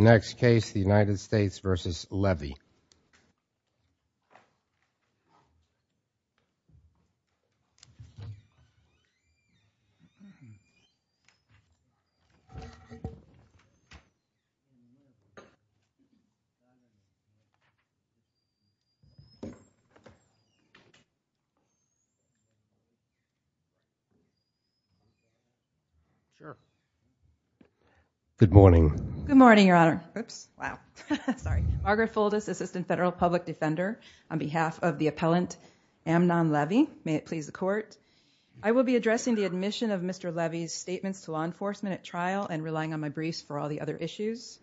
Next case, the United States v. Levi Good morning. Good morning, Your Honor. Oops, wow. Sorry. Margaret Fuldis, assistant federal public defender on behalf of the appellant Amnon Levi. May it please the court. I will be addressing the admission of Mr. Levi's statements to law enforcement at trial and relying on my briefs for all the other issues.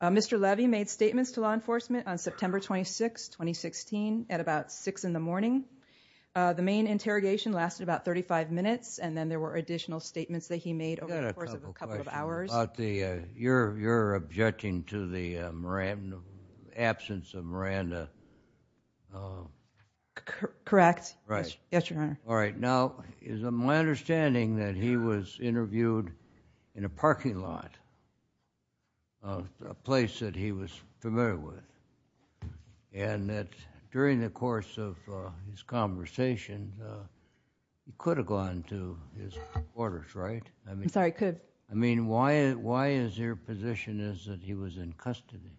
Mr. Levi made statements to law enforcement on September 26, 2016 at about 6 in the morning. The main interrogation lasted about 35 minutes and then there were additional statements that he made over the course of a couple of hours. About the, you're objecting to the absence of Miranda. Correct. Right. Yes, Your Honor. All right. Now, is it my understanding that he was interviewed in a parking lot, a place that he was familiar with and that during the course of this conversation, he could have gone to his quarters, right? I'm sorry, could. I mean, why is your position is that he was in custody?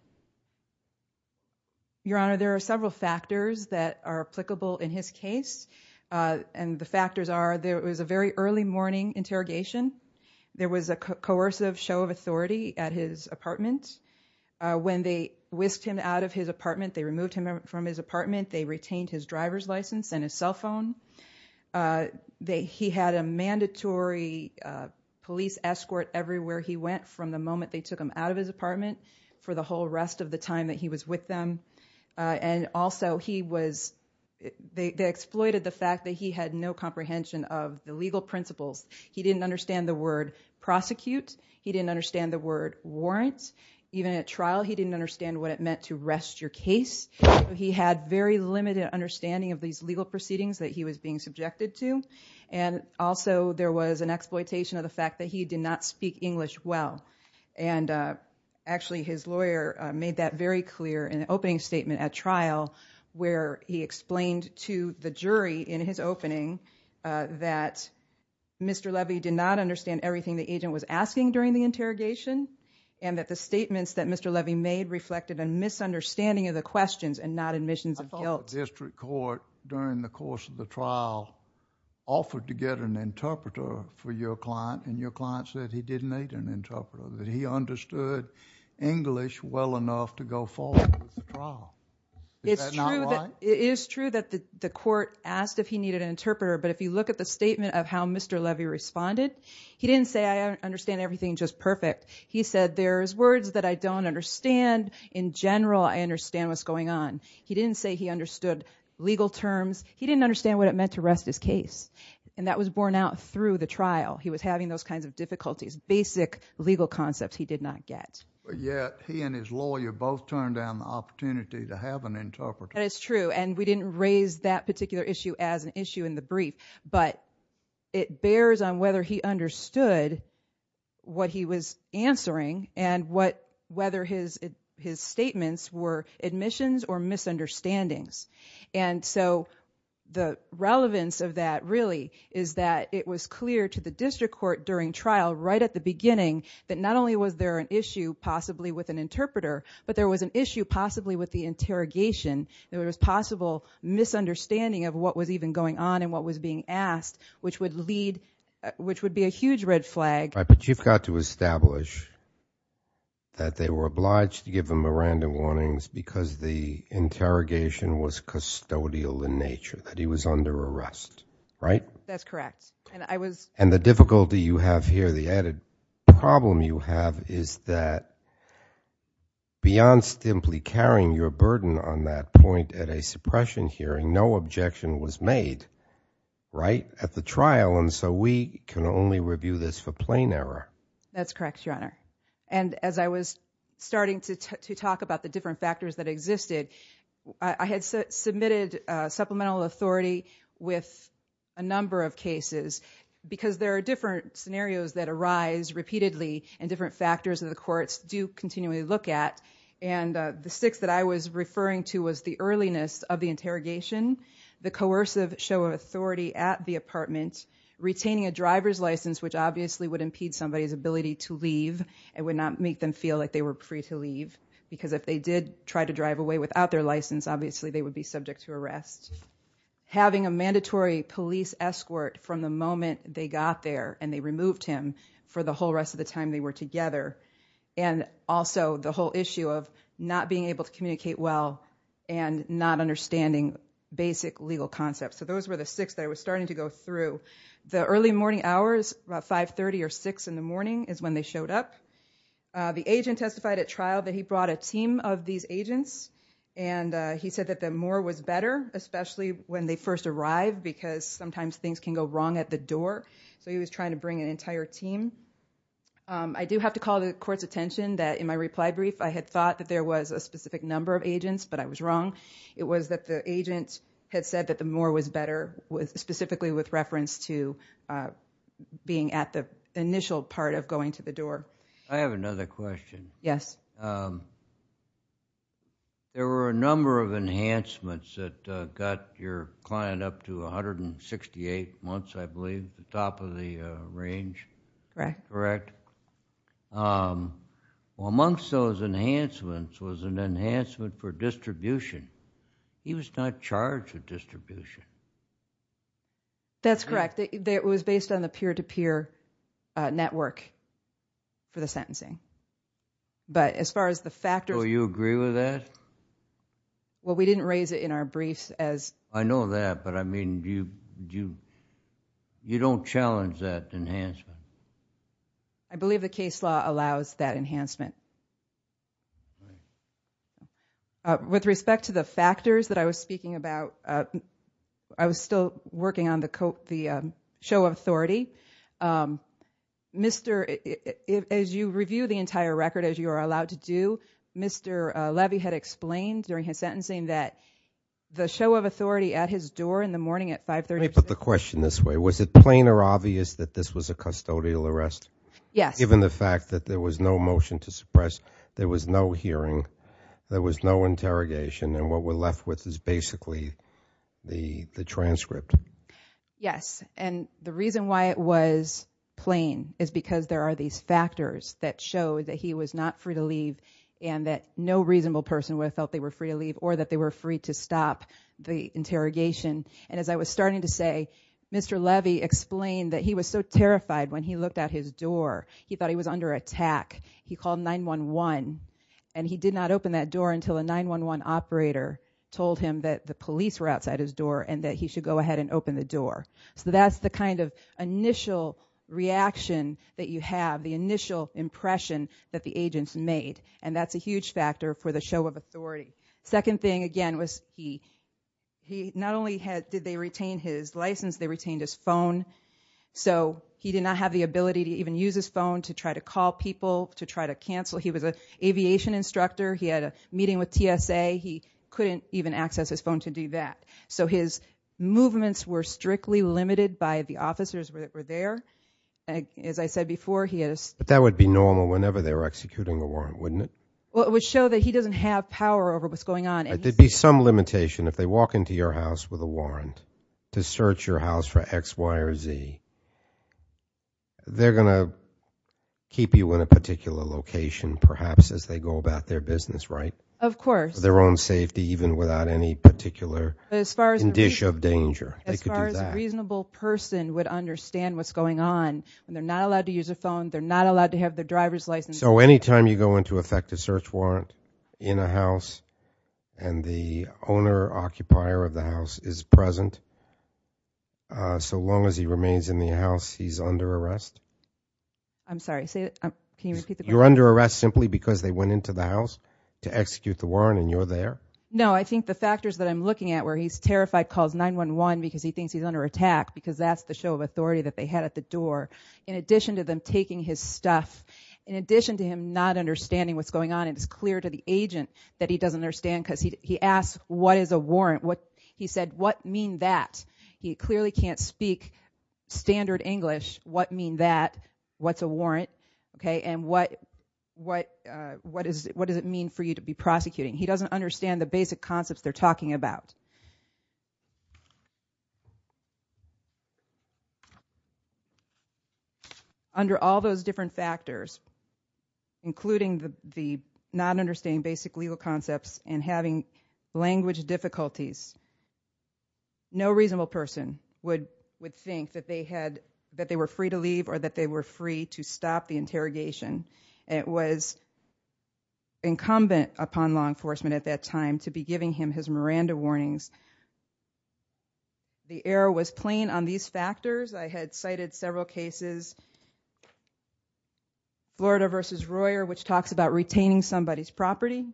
Your Honor, there are several factors that are applicable in his case and the factors are there was a very early morning interrogation. There was a coercive show of authority at his apartment. When they whisked him out of his apartment, they removed him from his apartment. They retained his driver's license and his cell phone. They, he had a mandatory police escort everywhere he went from the moment they took him out of his apartment for the whole rest of the time that he was with them. And also he was, they exploited the fact that he had no comprehension of the legal principles. He didn't understand the word prosecute. He didn't understand the word warrants. Even at trial, he didn't understand what it meant to rest your case. He had very limited understanding of these legal proceedings that he was being subjected to. And also there was an exploitation of the fact that he did not speak English well. And actually his lawyer made that very clear in an opening statement at trial where he explained to the jury in his opening that Mr. Levy did not understand everything the agent was asking during the interrogation and that the statements that Mr. Levy made reflected a misunderstanding of the questions and not admissions of guilt. I thought the district court during the course of the trial offered to get an interpreter for your client and your client said he didn't need an interpreter, that he understood English well enough to go forward with the trial. Is that not right? It is true that the court asked if he needed an interpreter, but if you look at the statement of how Mr. Levy responded, he didn't say I understand everything just perfect. He said there's words that I don't understand. In general, I understand what's going on. He didn't say he understood legal terms. He didn't understand what it meant to rest his case. And that was borne out through the trial. He was having those kinds of difficulties, basic legal concepts he did not get. But yet, he and his lawyer both turned down the opportunity to have an interpreter. That is true. And we didn't raise that particular issue as an issue in the brief, but it bears on whether he understood what he was answering and whether his statements were admissions or misunderstandings. And so, the relevance of that really is that it was clear to the district court during trial right at the beginning that not only was there an issue possibly with an interpreter, but there was an issue possibly with the interrogation, there was possible misunderstanding of what was even going on and what was being asked, which would lead, which would be a huge red flag. But you've got to establish that they were obliged to give him a random warnings because the interrogation was custodial in nature, that he was under arrest, right? That's correct. And I was. And the difficulty you have here, the added problem you have is that beyond simply carrying your burden on that point at a suppression hearing, no objection was made, right? At the trial. And so, we can only review this for plain error. That's correct, Your Honor. And as I was starting to talk about the different factors that existed, I had submitted supplemental authority with a number of cases because there are different scenarios that arise repeatedly and different factors that the courts do continually look at. And the six that I was referring to was the earliness of the interrogation, the coercive show of authority at the apartment, retaining a driver's license, which obviously would impede somebody's ability to leave and would not make them feel like they were free to leave because if they did try to drive away without their license, obviously they would be subject to arrest. Having a mandatory police escort from the moment they got there and they removed him for the whole rest of the time they were together. And also, the whole issue of not being able to communicate well and not understanding basic legal concepts. So those were the six that I was starting to go through. The early morning hours, about 5.30 or 6 in the morning is when they showed up. The agent testified at trial that he brought a team of these agents and he said that the more was better, especially when they first arrived because sometimes things can go wrong at the door. So he was trying to bring an entire team. I do have to call the court's attention that in my reply brief, I had thought that there was a specific number of agents, but I was wrong. It was that the agent had said that the more was better, specifically with reference to being at the initial part of going to the door. I have another question. Yes. There were a number of enhancements that got your client up to 168 months, I believe, at the top of the range. Correct. Correct. Well, amongst those enhancements was an enhancement for distribution. He was not charged with distribution. That's correct. It was based on the peer-to-peer network for the sentencing. But as far as the factors... So you agree with that? Well, we didn't raise it in our briefs as... I know that, but I mean, you don't challenge that enhancement. I believe the case law allows that enhancement. With respect to the factors that I was speaking about, I was still working on the show of authority. As you review the entire record, as you are allowed to do, Mr. Levy had explained during the show of authority at his door in the morning at 5.30 a.m. Let me put the question this way. Was it plain or obvious that this was a custodial arrest? Yes. Given the fact that there was no motion to suppress, there was no hearing, there was no interrogation, and what we're left with is basically the transcript. Yes. And the reason why it was plain is because there are these factors that show that he was not free to leave and that no reasonable person would have felt they were free to leave or that they were free to stop the interrogation. And as I was starting to say, Mr. Levy explained that he was so terrified when he looked at his door, he thought he was under attack. He called 911, and he did not open that door until a 911 operator told him that the police were outside his door and that he should go ahead and open the door. So that's the kind of initial reaction that you have, the initial impression that the agents made, and that's a huge factor for the show of authority. The second thing, again, was he not only did they retain his license, they retained his phone, so he did not have the ability to even use his phone to try to call people, to try to cancel. He was an aviation instructor. He had a meeting with TSA. He couldn't even access his phone to do that. So his movements were strictly limited by the officers that were there. As I said before, he had a... But that would be normal whenever they were executing the warrant, wouldn't it? Well, it would show that he doesn't have power over what's going on. There'd be some limitation if they walk into your house with a warrant to search your house for X, Y, or Z. They're going to keep you in a particular location, perhaps, as they go about their business, right? Of course. For their own safety, even without any particular indicia of danger. They could do that. As far as a reasonable person would understand what's going on, when they're not allowed to use a phone, they're not allowed to have their driver's license. So any time you go into effect a search warrant in a house and the owner, occupier of the house is present, so long as he remains in the house, he's under arrest? I'm sorry. Can you repeat the question? You're under arrest simply because they went into the house to execute the warrant and you're there? No. I think the factors that I'm looking at where he's terrified, calls 911 because he thinks he's under attack, because that's the show of authority that they had at the door, in addition to him not understanding what's going on, it's clear to the agent that he doesn't understand because he asks, what is a warrant? He said, what mean that? He clearly can't speak standard English. What mean that? What's a warrant? And what does it mean for you to be prosecuting? He doesn't understand the basic concepts they're talking about. Okay. Under all those different factors, including the not understanding basic legal concepts and having language difficulties, no reasonable person would think that they were free to leave or that they were free to stop the interrogation. It was incumbent upon law enforcement at that time to be giving him his Miranda warnings. The error was plain on these factors. I had cited several cases, Florida versus Royer, which talks about retaining somebody's property,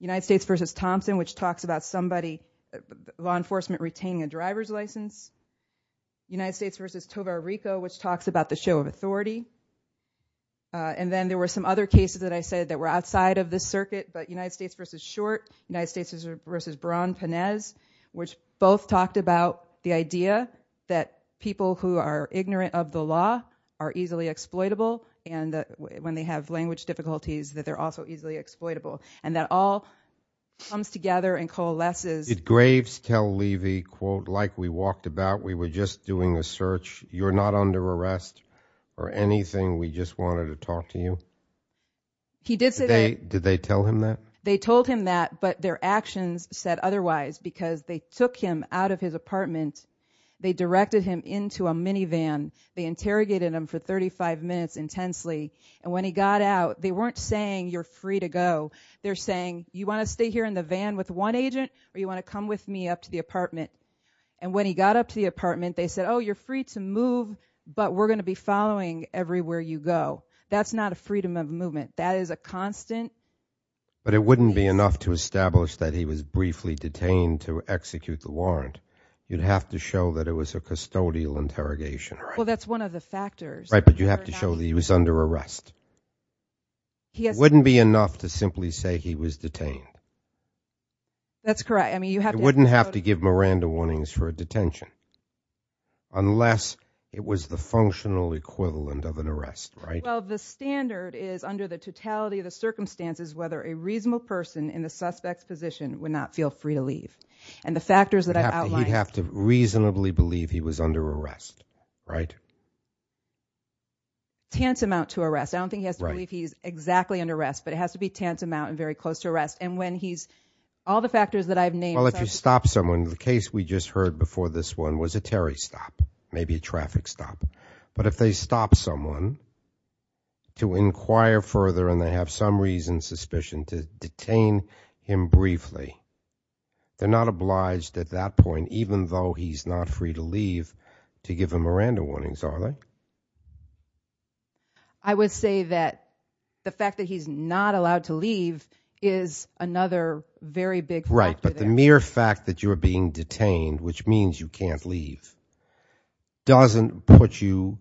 United States versus Thompson, which talks about somebody, law enforcement retaining a driver's license, United States versus Tovar Rico, which talks about the show of authority. And then there were some other cases that I said that were outside of the circuit, but United States versus Short, United States versus Brown-Panez, which both talked about the idea that people who are ignorant of the law are easily exploitable, and when they have language difficulties, that they're also easily exploitable, and that all comes together and coalesces. It graves Kell Levy, quote, like we walked about, we were just doing a search. You're not under arrest or anything. We just wanted to talk to you. He did say that. Did they tell him that? They told him that, but their actions said otherwise because they took him out of his apartment, they directed him into a minivan, they interrogated him for 35 minutes intensely, and when he got out, they weren't saying, you're free to go. They're saying, you want to stay here in the van with one agent or you want to come with me up to the apartment? And when he got up to the apartment, they said, oh, you're free to move, but we're going to be following everywhere you go. That's not a freedom of movement. That is a constant. But it wouldn't be enough to establish that he was briefly detained to execute the warrant. You'd have to show that it was a custodial interrogation. Well, that's one of the factors. Right, but you have to show that he was under arrest. It wouldn't be enough to simply say he was detained. That's correct. It wouldn't have to give Miranda warnings for a detention unless it was the functional equivalent of an arrest, right? Well, the standard is under the totality of the circumstances, whether a reasonable person in the suspect's position would not feel free to leave. And the factors that I've outlined. He'd have to reasonably believe he was under arrest, right? Tense amount to arrest. I don't think he has to believe he's exactly under arrest, but it has to be tense amount and very close to arrest. And when he's, all the factors that I've named. Well, if you stop someone, the case we just heard before this one was a Terry stop, maybe a traffic stop. But if they stop someone to inquire further and they have some reason, suspicion to detain him briefly, they're not obliged at that point, even though he's not free to leave, to give him Miranda warnings, are they? I would say that the fact that he's not allowed to leave is another very big, right? But the mere fact that you're being detained, which means you can't leave, doesn't put you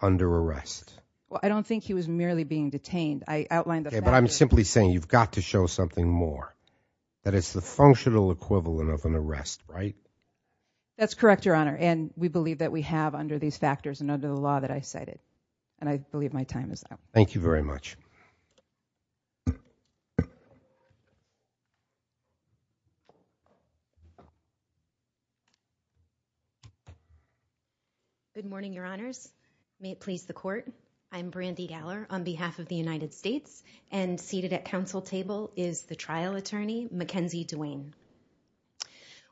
under arrest. Well, I don't think he was merely being detained. I outlined that, but I'm simply saying you've got to show something more that it's the functional equivalent of an arrest, right? That's correct. Thank you, Your Honor. And we believe that we have under these factors and under the law that I cited, and I believe my time is up. Thank you very much. Good morning, Your Honors. May it please the court. I'm Brandy Galler on behalf of the United States and seated at council table is the trial attorney, Mackenzie Dwayne.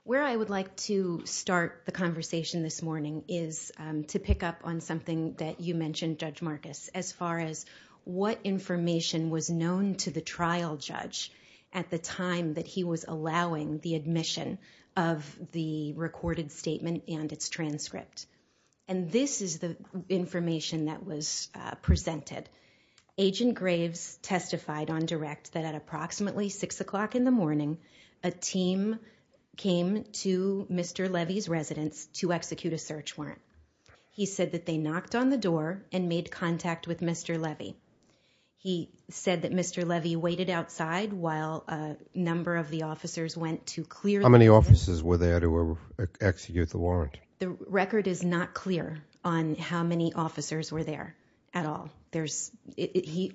Where I would like to start the conversation this morning is to pick up on something that you mentioned, Judge Marcus, as far as what information was known to the trial judge at the time that he was allowing the admission of the recorded statement and its transcript. And this is the information that was presented. Agent Graves testified on direct that at approximately six o'clock in the morning, a team came to Mr. Levy's residence to execute a search warrant. He said that they knocked on the door and made contact with Mr. Levy. He said that Mr. Levy waited outside while a number of the officers went to clear- How many officers were there to execute the warrant? The record is not clear on how many officers were there at all.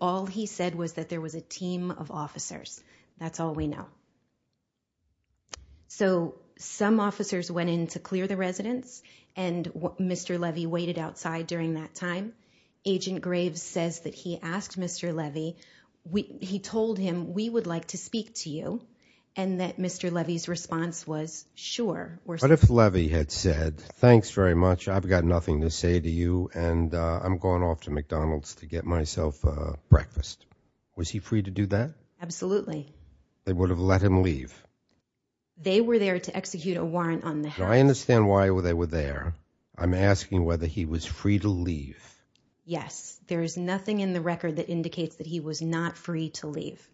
All he said was that there was a team of officers. That's all we know. So some officers went in to clear the residence, and Mr. Levy waited outside during that time. Agent Graves says that he asked Mr. Levy, he told him, we would like to speak to you, and that Mr. Levy's response was, sure. What if Levy had said, thanks very much, I've got nothing to say to you, and I'm going off to McDonald's to get myself a breakfast. Was he free to do that? Absolutely. They would have let him leave? They were there to execute a warrant on the house. I understand why they were there. I'm asking whether he was free to leave. Yes. There is nothing in the record that indicates that he was not free to leave.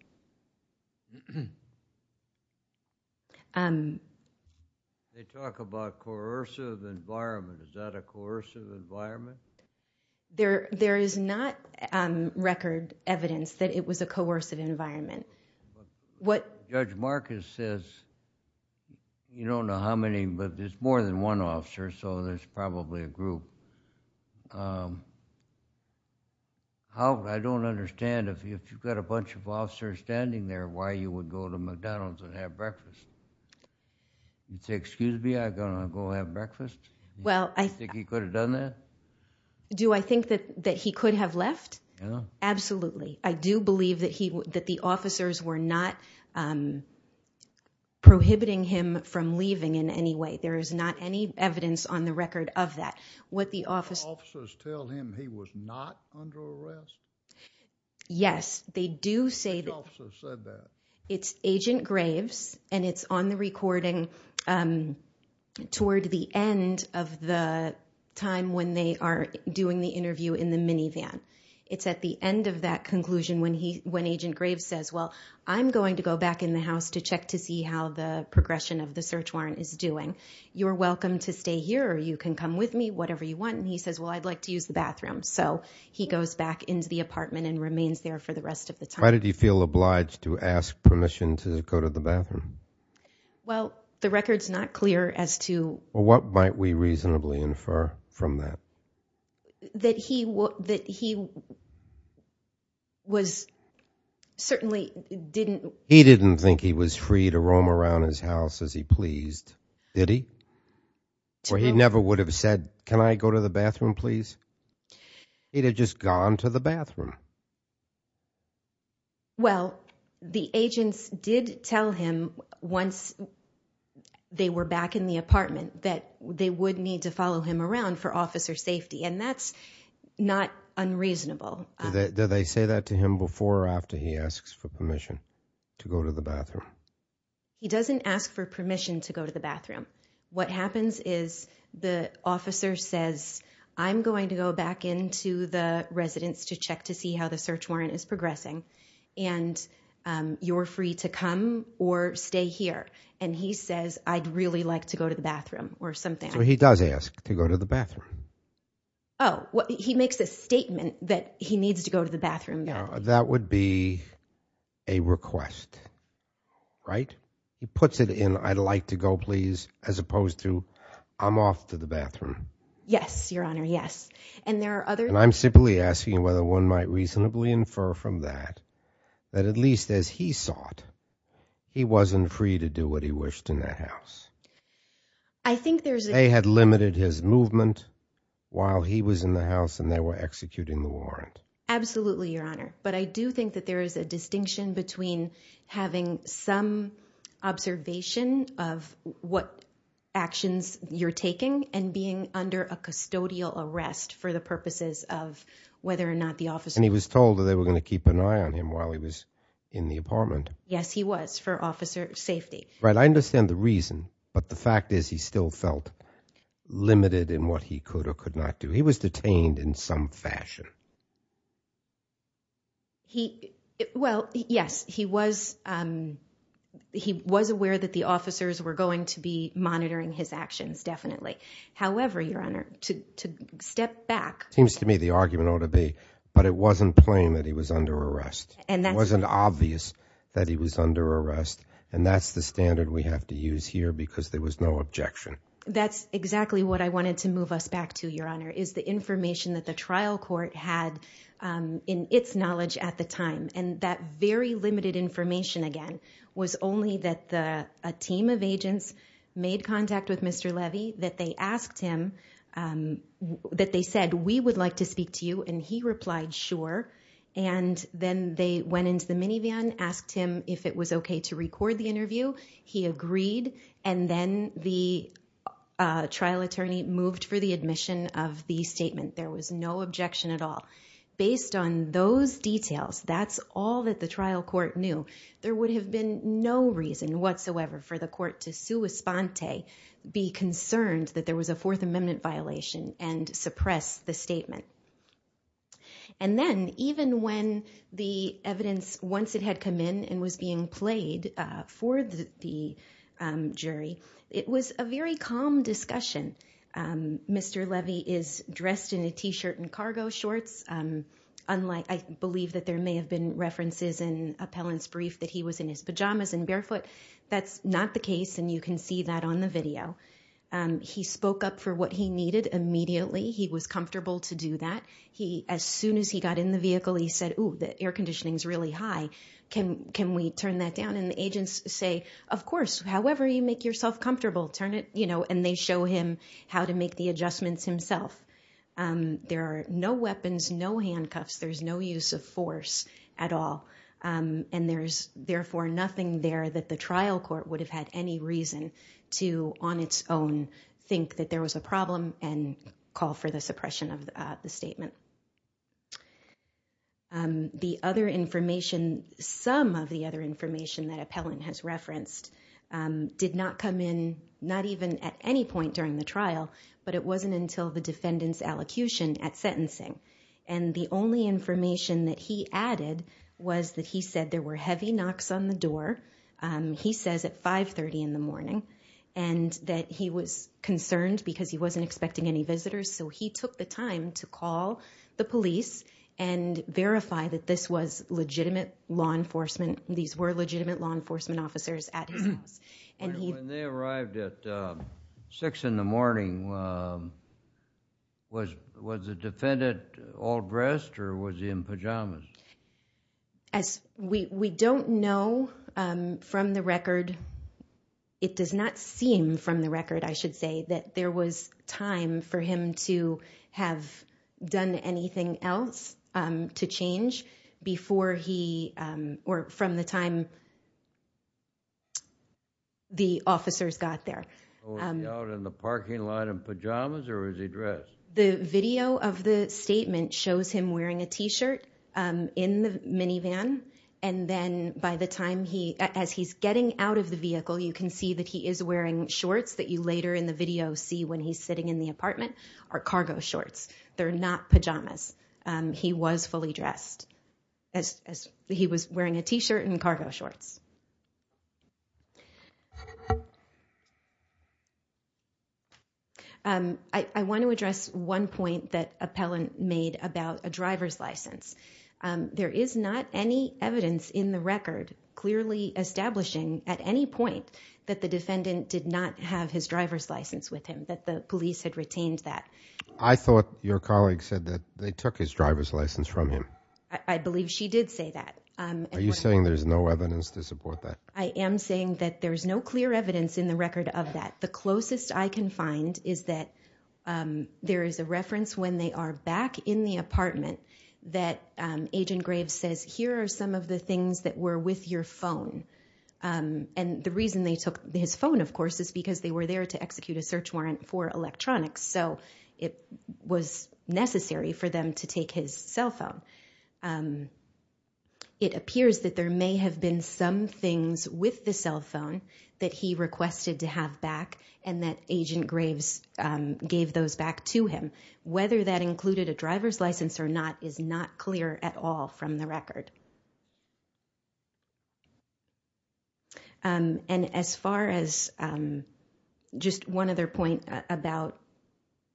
They talk about coercive environment. Is that a coercive environment? There is not record evidence that it was a coercive environment. What... Judge Marcus says, you don't know how many, but there's more than one officer, so there's probably a group. I don't understand, if you've got a bunch of officers standing there, why you would go to McDonald's and have breakfast? You'd say, excuse me, I'm going to go have breakfast? Do you think he could have done that? Do I think that he could have left? Yeah. Absolutely. I do believe that the officers were not prohibiting him from leaving in any way. There is not any evidence on the record of that. What the officers... Did the officers tell him he was not under arrest? Yes. They do say... Which officers said that? It's Agent Graves, and it's on the recording toward the end of the time when they are doing the interview in the minivan. It's at the end of that conclusion when Agent Graves says, well, I'm going to go back in the house to check to see how the progression of the search warrant is doing. You're welcome to stay here, or you can come with me, whatever you want. He says, well, I'd like to use the bathroom. He goes back into the apartment and remains there for the rest of the time. Why did he feel obliged to ask permission to go to the bathroom? Well, the record's not clear as to... What might we reasonably infer from that? That he was certainly didn't... He didn't think he was free to roam around his house as he pleased, did he? To whom? Or he never would have said, can I go to the bathroom, please? He'd have just gone to the bathroom. Well, the agents did tell him once they were back in the apartment that they would need to follow him around for officer safety, and that's not unreasonable. Did they say that to him before or after he asks for permission to go to the bathroom? He doesn't ask for permission to go to the bathroom. What happens is the officer says, I'm going to go back into the residence to check to see how the search warrant is progressing, and you're free to come or stay here. And he says, I'd really like to go to the bathroom, or something. So he does ask to go to the bathroom. Oh, he makes a statement that he needs to go to the bathroom. That would be a request, right? He puts it in, I'd like to go, please, as opposed to, I'm off to the bathroom. Yes, Your Honor, yes. And there are other- And I'm simply asking whether one might reasonably infer from that, that at least as he sought, he wasn't free to do what he wished in the house. I think there's a- They had limited his movement while he was in the house and they were executing the warrant. Absolutely, Your Honor. But I do think that there is a distinction between having some observation of what actions you're taking and being under a custodial arrest for the purposes of whether or not the officer- And he was told that they were going to keep an eye on him while he was in the apartment. Yes, he was, for officer safety. Right, I understand the reason, but the fact is he still felt limited in what he could or could not do. He was detained in some fashion. He, well, yes, he was, he was aware that the officers were going to be monitoring his actions, definitely. However, Your Honor, to step back- Seems to me the argument ought to be, but it wasn't plain that he was under arrest. And that's- It wasn't obvious that he was under arrest. And that's the standard we have to use here because there was no objection. That's exactly what I wanted to move us back to, Your Honor, is the information that the And that very limited information, again, was only that a team of agents made contact with Mr. Levy, that they asked him, that they said, we would like to speak to you. And he replied, sure. And then they went into the minivan, asked him if it was okay to record the interview. He agreed. And then the trial attorney moved for the admission of the statement. There was no objection at all. Based on those details, that's all that the trial court knew. There would have been no reason whatsoever for the court to sua sponte, be concerned that there was a Fourth Amendment violation, and suppress the statement. And then, even when the evidence, once it had come in and was being played for the jury, it was a very calm discussion. Mr. Levy is dressed in a T-shirt and cargo shorts. Unlike, I believe that there may have been references in Appellant's brief that he was in his pajamas and barefoot. That's not the case, and you can see that on the video. He spoke up for what he needed immediately. He was comfortable to do that. As soon as he got in the vehicle, he said, ooh, the air conditioning's really high. Can we turn that down? And the agents say, of course, however you make yourself comfortable. And they show him how to make the adjustments himself. There are no weapons, no handcuffs, there's no use of force at all. And there's, therefore, nothing there that the trial court would have had any reason to, on its own, think that there was a problem and call for the suppression of the statement. The other information, some of the other information that Appellant has referenced, did not come in, not even at any point during the trial, but it wasn't until the defendant's allocution at sentencing. And the only information that he added was that he said there were heavy knocks on the door, he says at 5.30 in the morning, and that he was concerned because he wasn't expecting any visitors. So he took the time to call the police and verify that this was legitimate law enforcement, these were legitimate law enforcement officers at his house. When they arrived at 6 in the morning, was the defendant all dressed or was he in pajamas? We don't know from the record, it does not seem from the record, I should say, that there was time for him to have done anything else to change before he, or from the time the officers got there. Was he out in the parking lot in pajamas or was he dressed? The video of the statement shows him wearing a t-shirt in the minivan, and then by the time he, as he's getting out of the vehicle, you can see that he is wearing shorts that you later in the video see when he's sitting in the apartment, are cargo shorts. They're not pajamas. He was fully dressed. He was wearing a t-shirt and cargo shorts. I want to address one point that Appellant made about a driver's license. There is not any evidence in the record clearly establishing at any point that the defendant did not have his driver's license with him, that the police had retained that. I thought your colleague said that they took his driver's license from him. I believe she did say that. Are you saying there's no evidence to support that? I am saying that there's no clear evidence in the record of that. The closest I can find is that there is a reference when they are back in the apartment that Agent Graves says, here are some of the things that were with your phone. And the reason they took his phone, of course, is because they were there to execute a search warrant for electronics. So it was necessary for them to take his cell phone. It appears that there may have been some things with the cell phone that he requested to have back and that Agent Graves gave those back to him. Whether that included a driver's license or not is not clear at all from the record. And as far as just one other point about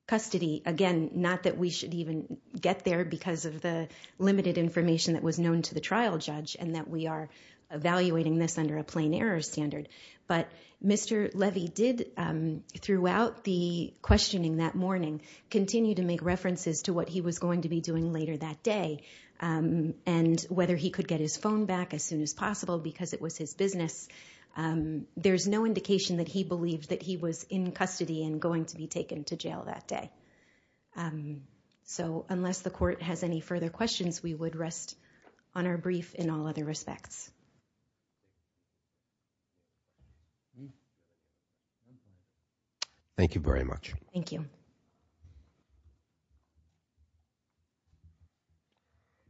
custody, again, not that we should even get there because of the limited information that was known to the trial judge and that we are evaluating this under a plain error standard. But Mr. Levy did, throughout the questioning that morning, continue to make references to what he was going to be doing later that day and whether he could get his phone back as soon as possible because it was his business. There's no indication that he believed that he was in custody and going to be taken to jail that day. So unless the court has any further questions, we would rest on our brief in all other respects. Thank you very much. Thank you.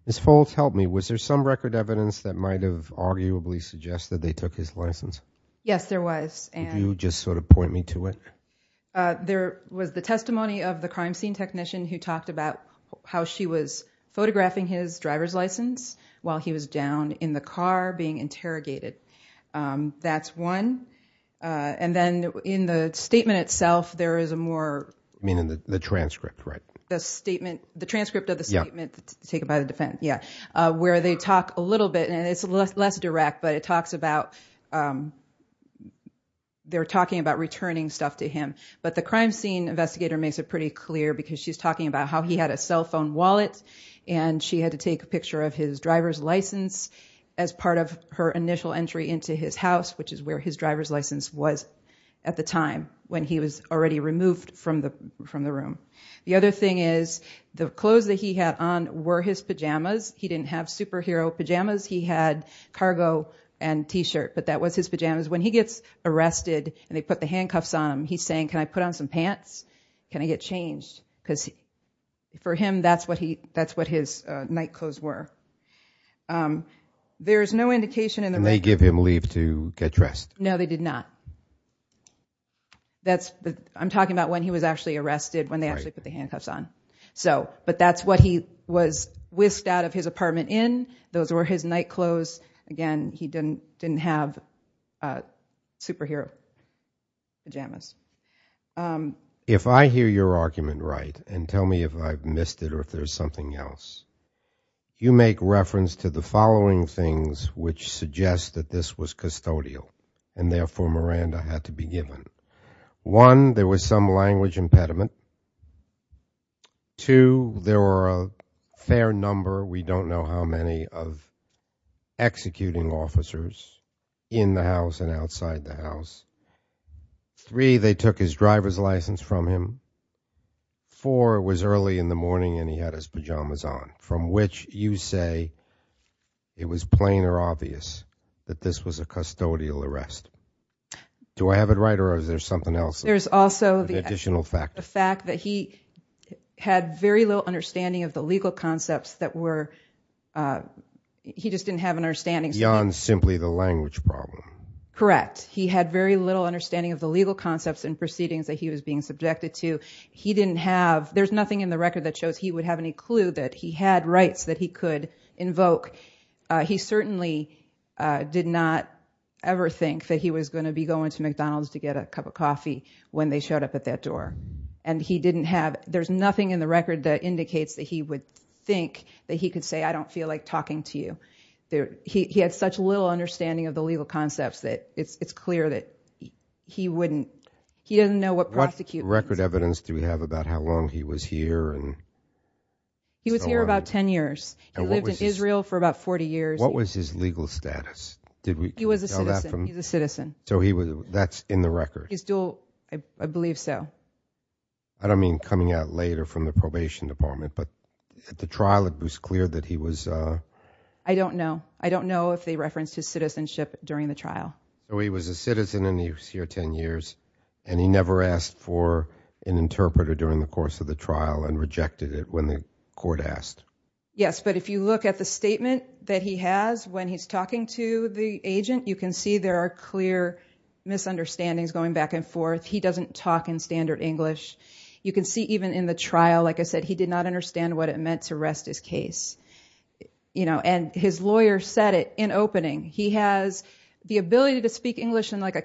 Ms. Foltz, help me. Was there some record evidence that might have arguably suggested that they took his license? Yes, there was. Could you just sort of point me to it? There was the testimony of the crime scene technician who talked about how she was photographing his driver's license while he was down in the car being interrogated. That's one. And then in the statement itself, there is a more... Meaning the transcript, right? The statement, the transcript of the statement taken by the defense, yeah. Where they talk a little bit, and it's less direct, but it talks about, they're talking about returning stuff to him. But the crime scene investigator makes it pretty clear because she's talking about how he had a cell phone wallet and she had to take a picture of his driver's license as part of her initial entry into his house, which is where his driver's license was at the time when he was already removed from the room. The other thing is the clothes that he had on were his pajamas. He didn't have superhero pajamas. He had cargo and T-shirt, but that was his pajamas. When he gets arrested and they put the handcuffs on him, he's saying, can I put on some pants? Can I get changed? Because for him, that's what his nightclothes were. There's no indication in the... And they give him leave to get dressed. No, they did not. That's, I'm talking about when he was actually arrested, when they actually put the handcuffs on. So, but that's what he was whisked out of his apartment in. Those were his nightclothes. Again, he didn't have superhero pajamas. If I hear your argument right, and tell me if I've missed it or if there's something else, you make reference to the following things which suggest that this was custodial, and therefore Miranda had to be given. One, there was some language impediment. Two, there were a fair number, we don't know how many, of executing officers in the house and outside the house. Three, they took his driver's license from him. Four, it was early in the morning and he had his pajamas on, from which you say it was plain or obvious that this was a custodial arrest. Do I have it right or is there something else? There's also the fact that he had very little understanding of the legal concepts that were, he just didn't have an understanding. Beyond simply the language problem. Correct. He had very little understanding of the legal concepts and proceedings that he was being subjected to. He didn't have, there's nothing in the record that shows he would have any clue that he had rights that he could invoke. He certainly did not ever think that he was going to be going to McDonald's to get a cup of coffee when they showed up at that door. And he didn't have, there's nothing in the record that indicates that he would think that he could say, I don't feel like talking to you. He had such little understanding of the legal concepts that it's clear that he wouldn't, he doesn't know what prosecute means. What record evidence do we have about how long he was here? He was here about 10 years. He lived in Israel for about 40 years. What was his legal status? He was a citizen. He's a citizen. So that's in the record. He's dual, I believe so. I don't mean coming out later from the probation department, but at the trial it was clear that he was. I don't know. I don't know if they referenced his citizenship during the trial. He was a citizen and he was here 10 years, and he never asked for an interpreter during the course of the trial and rejected it when the court asked. Yes, but if you look at the statement that he has when he's talking to the agent, you can see there are clear misunderstandings going back and forth. He doesn't talk in standard English. You can see even in the trial, like I said, he did not understand what it meant to rest his case. And his lawyer said it in opening. He has the ability to speak English in like a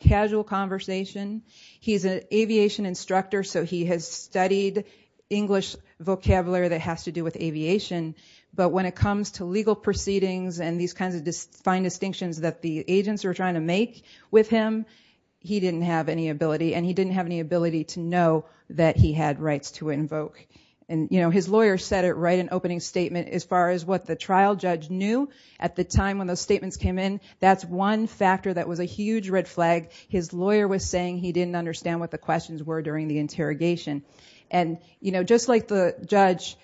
casual conversation. He's an aviation instructor, so he has studied English vocabulary that has to do with aviation. But when it comes to legal proceedings and these kinds of fine distinctions that the agents are trying to make with him, he didn't have any ability, that he had rights to invoke. And his lawyer said it right in opening statement. As far as what the trial judge knew at the time when those statements came in, that's one factor that was a huge red flag. His lawyer was saying he didn't understand what the questions were during the interrogation. And just like the judge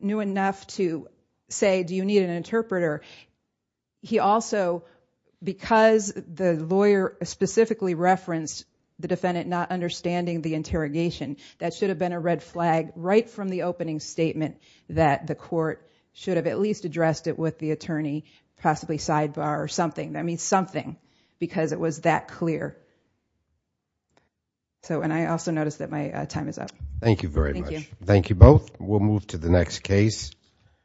knew enough to say, do you need an interpreter? He also, because the lawyer specifically referenced the defendant not understanding the interrogation, that should have been a red flag right from the opening statement that the court should have at least addressed it with the attorney, possibly sidebar or something. That means something because it was that clear. And I also noticed that my time is up. Thank you very much. Thank you. Thank you both. We'll move to the next case.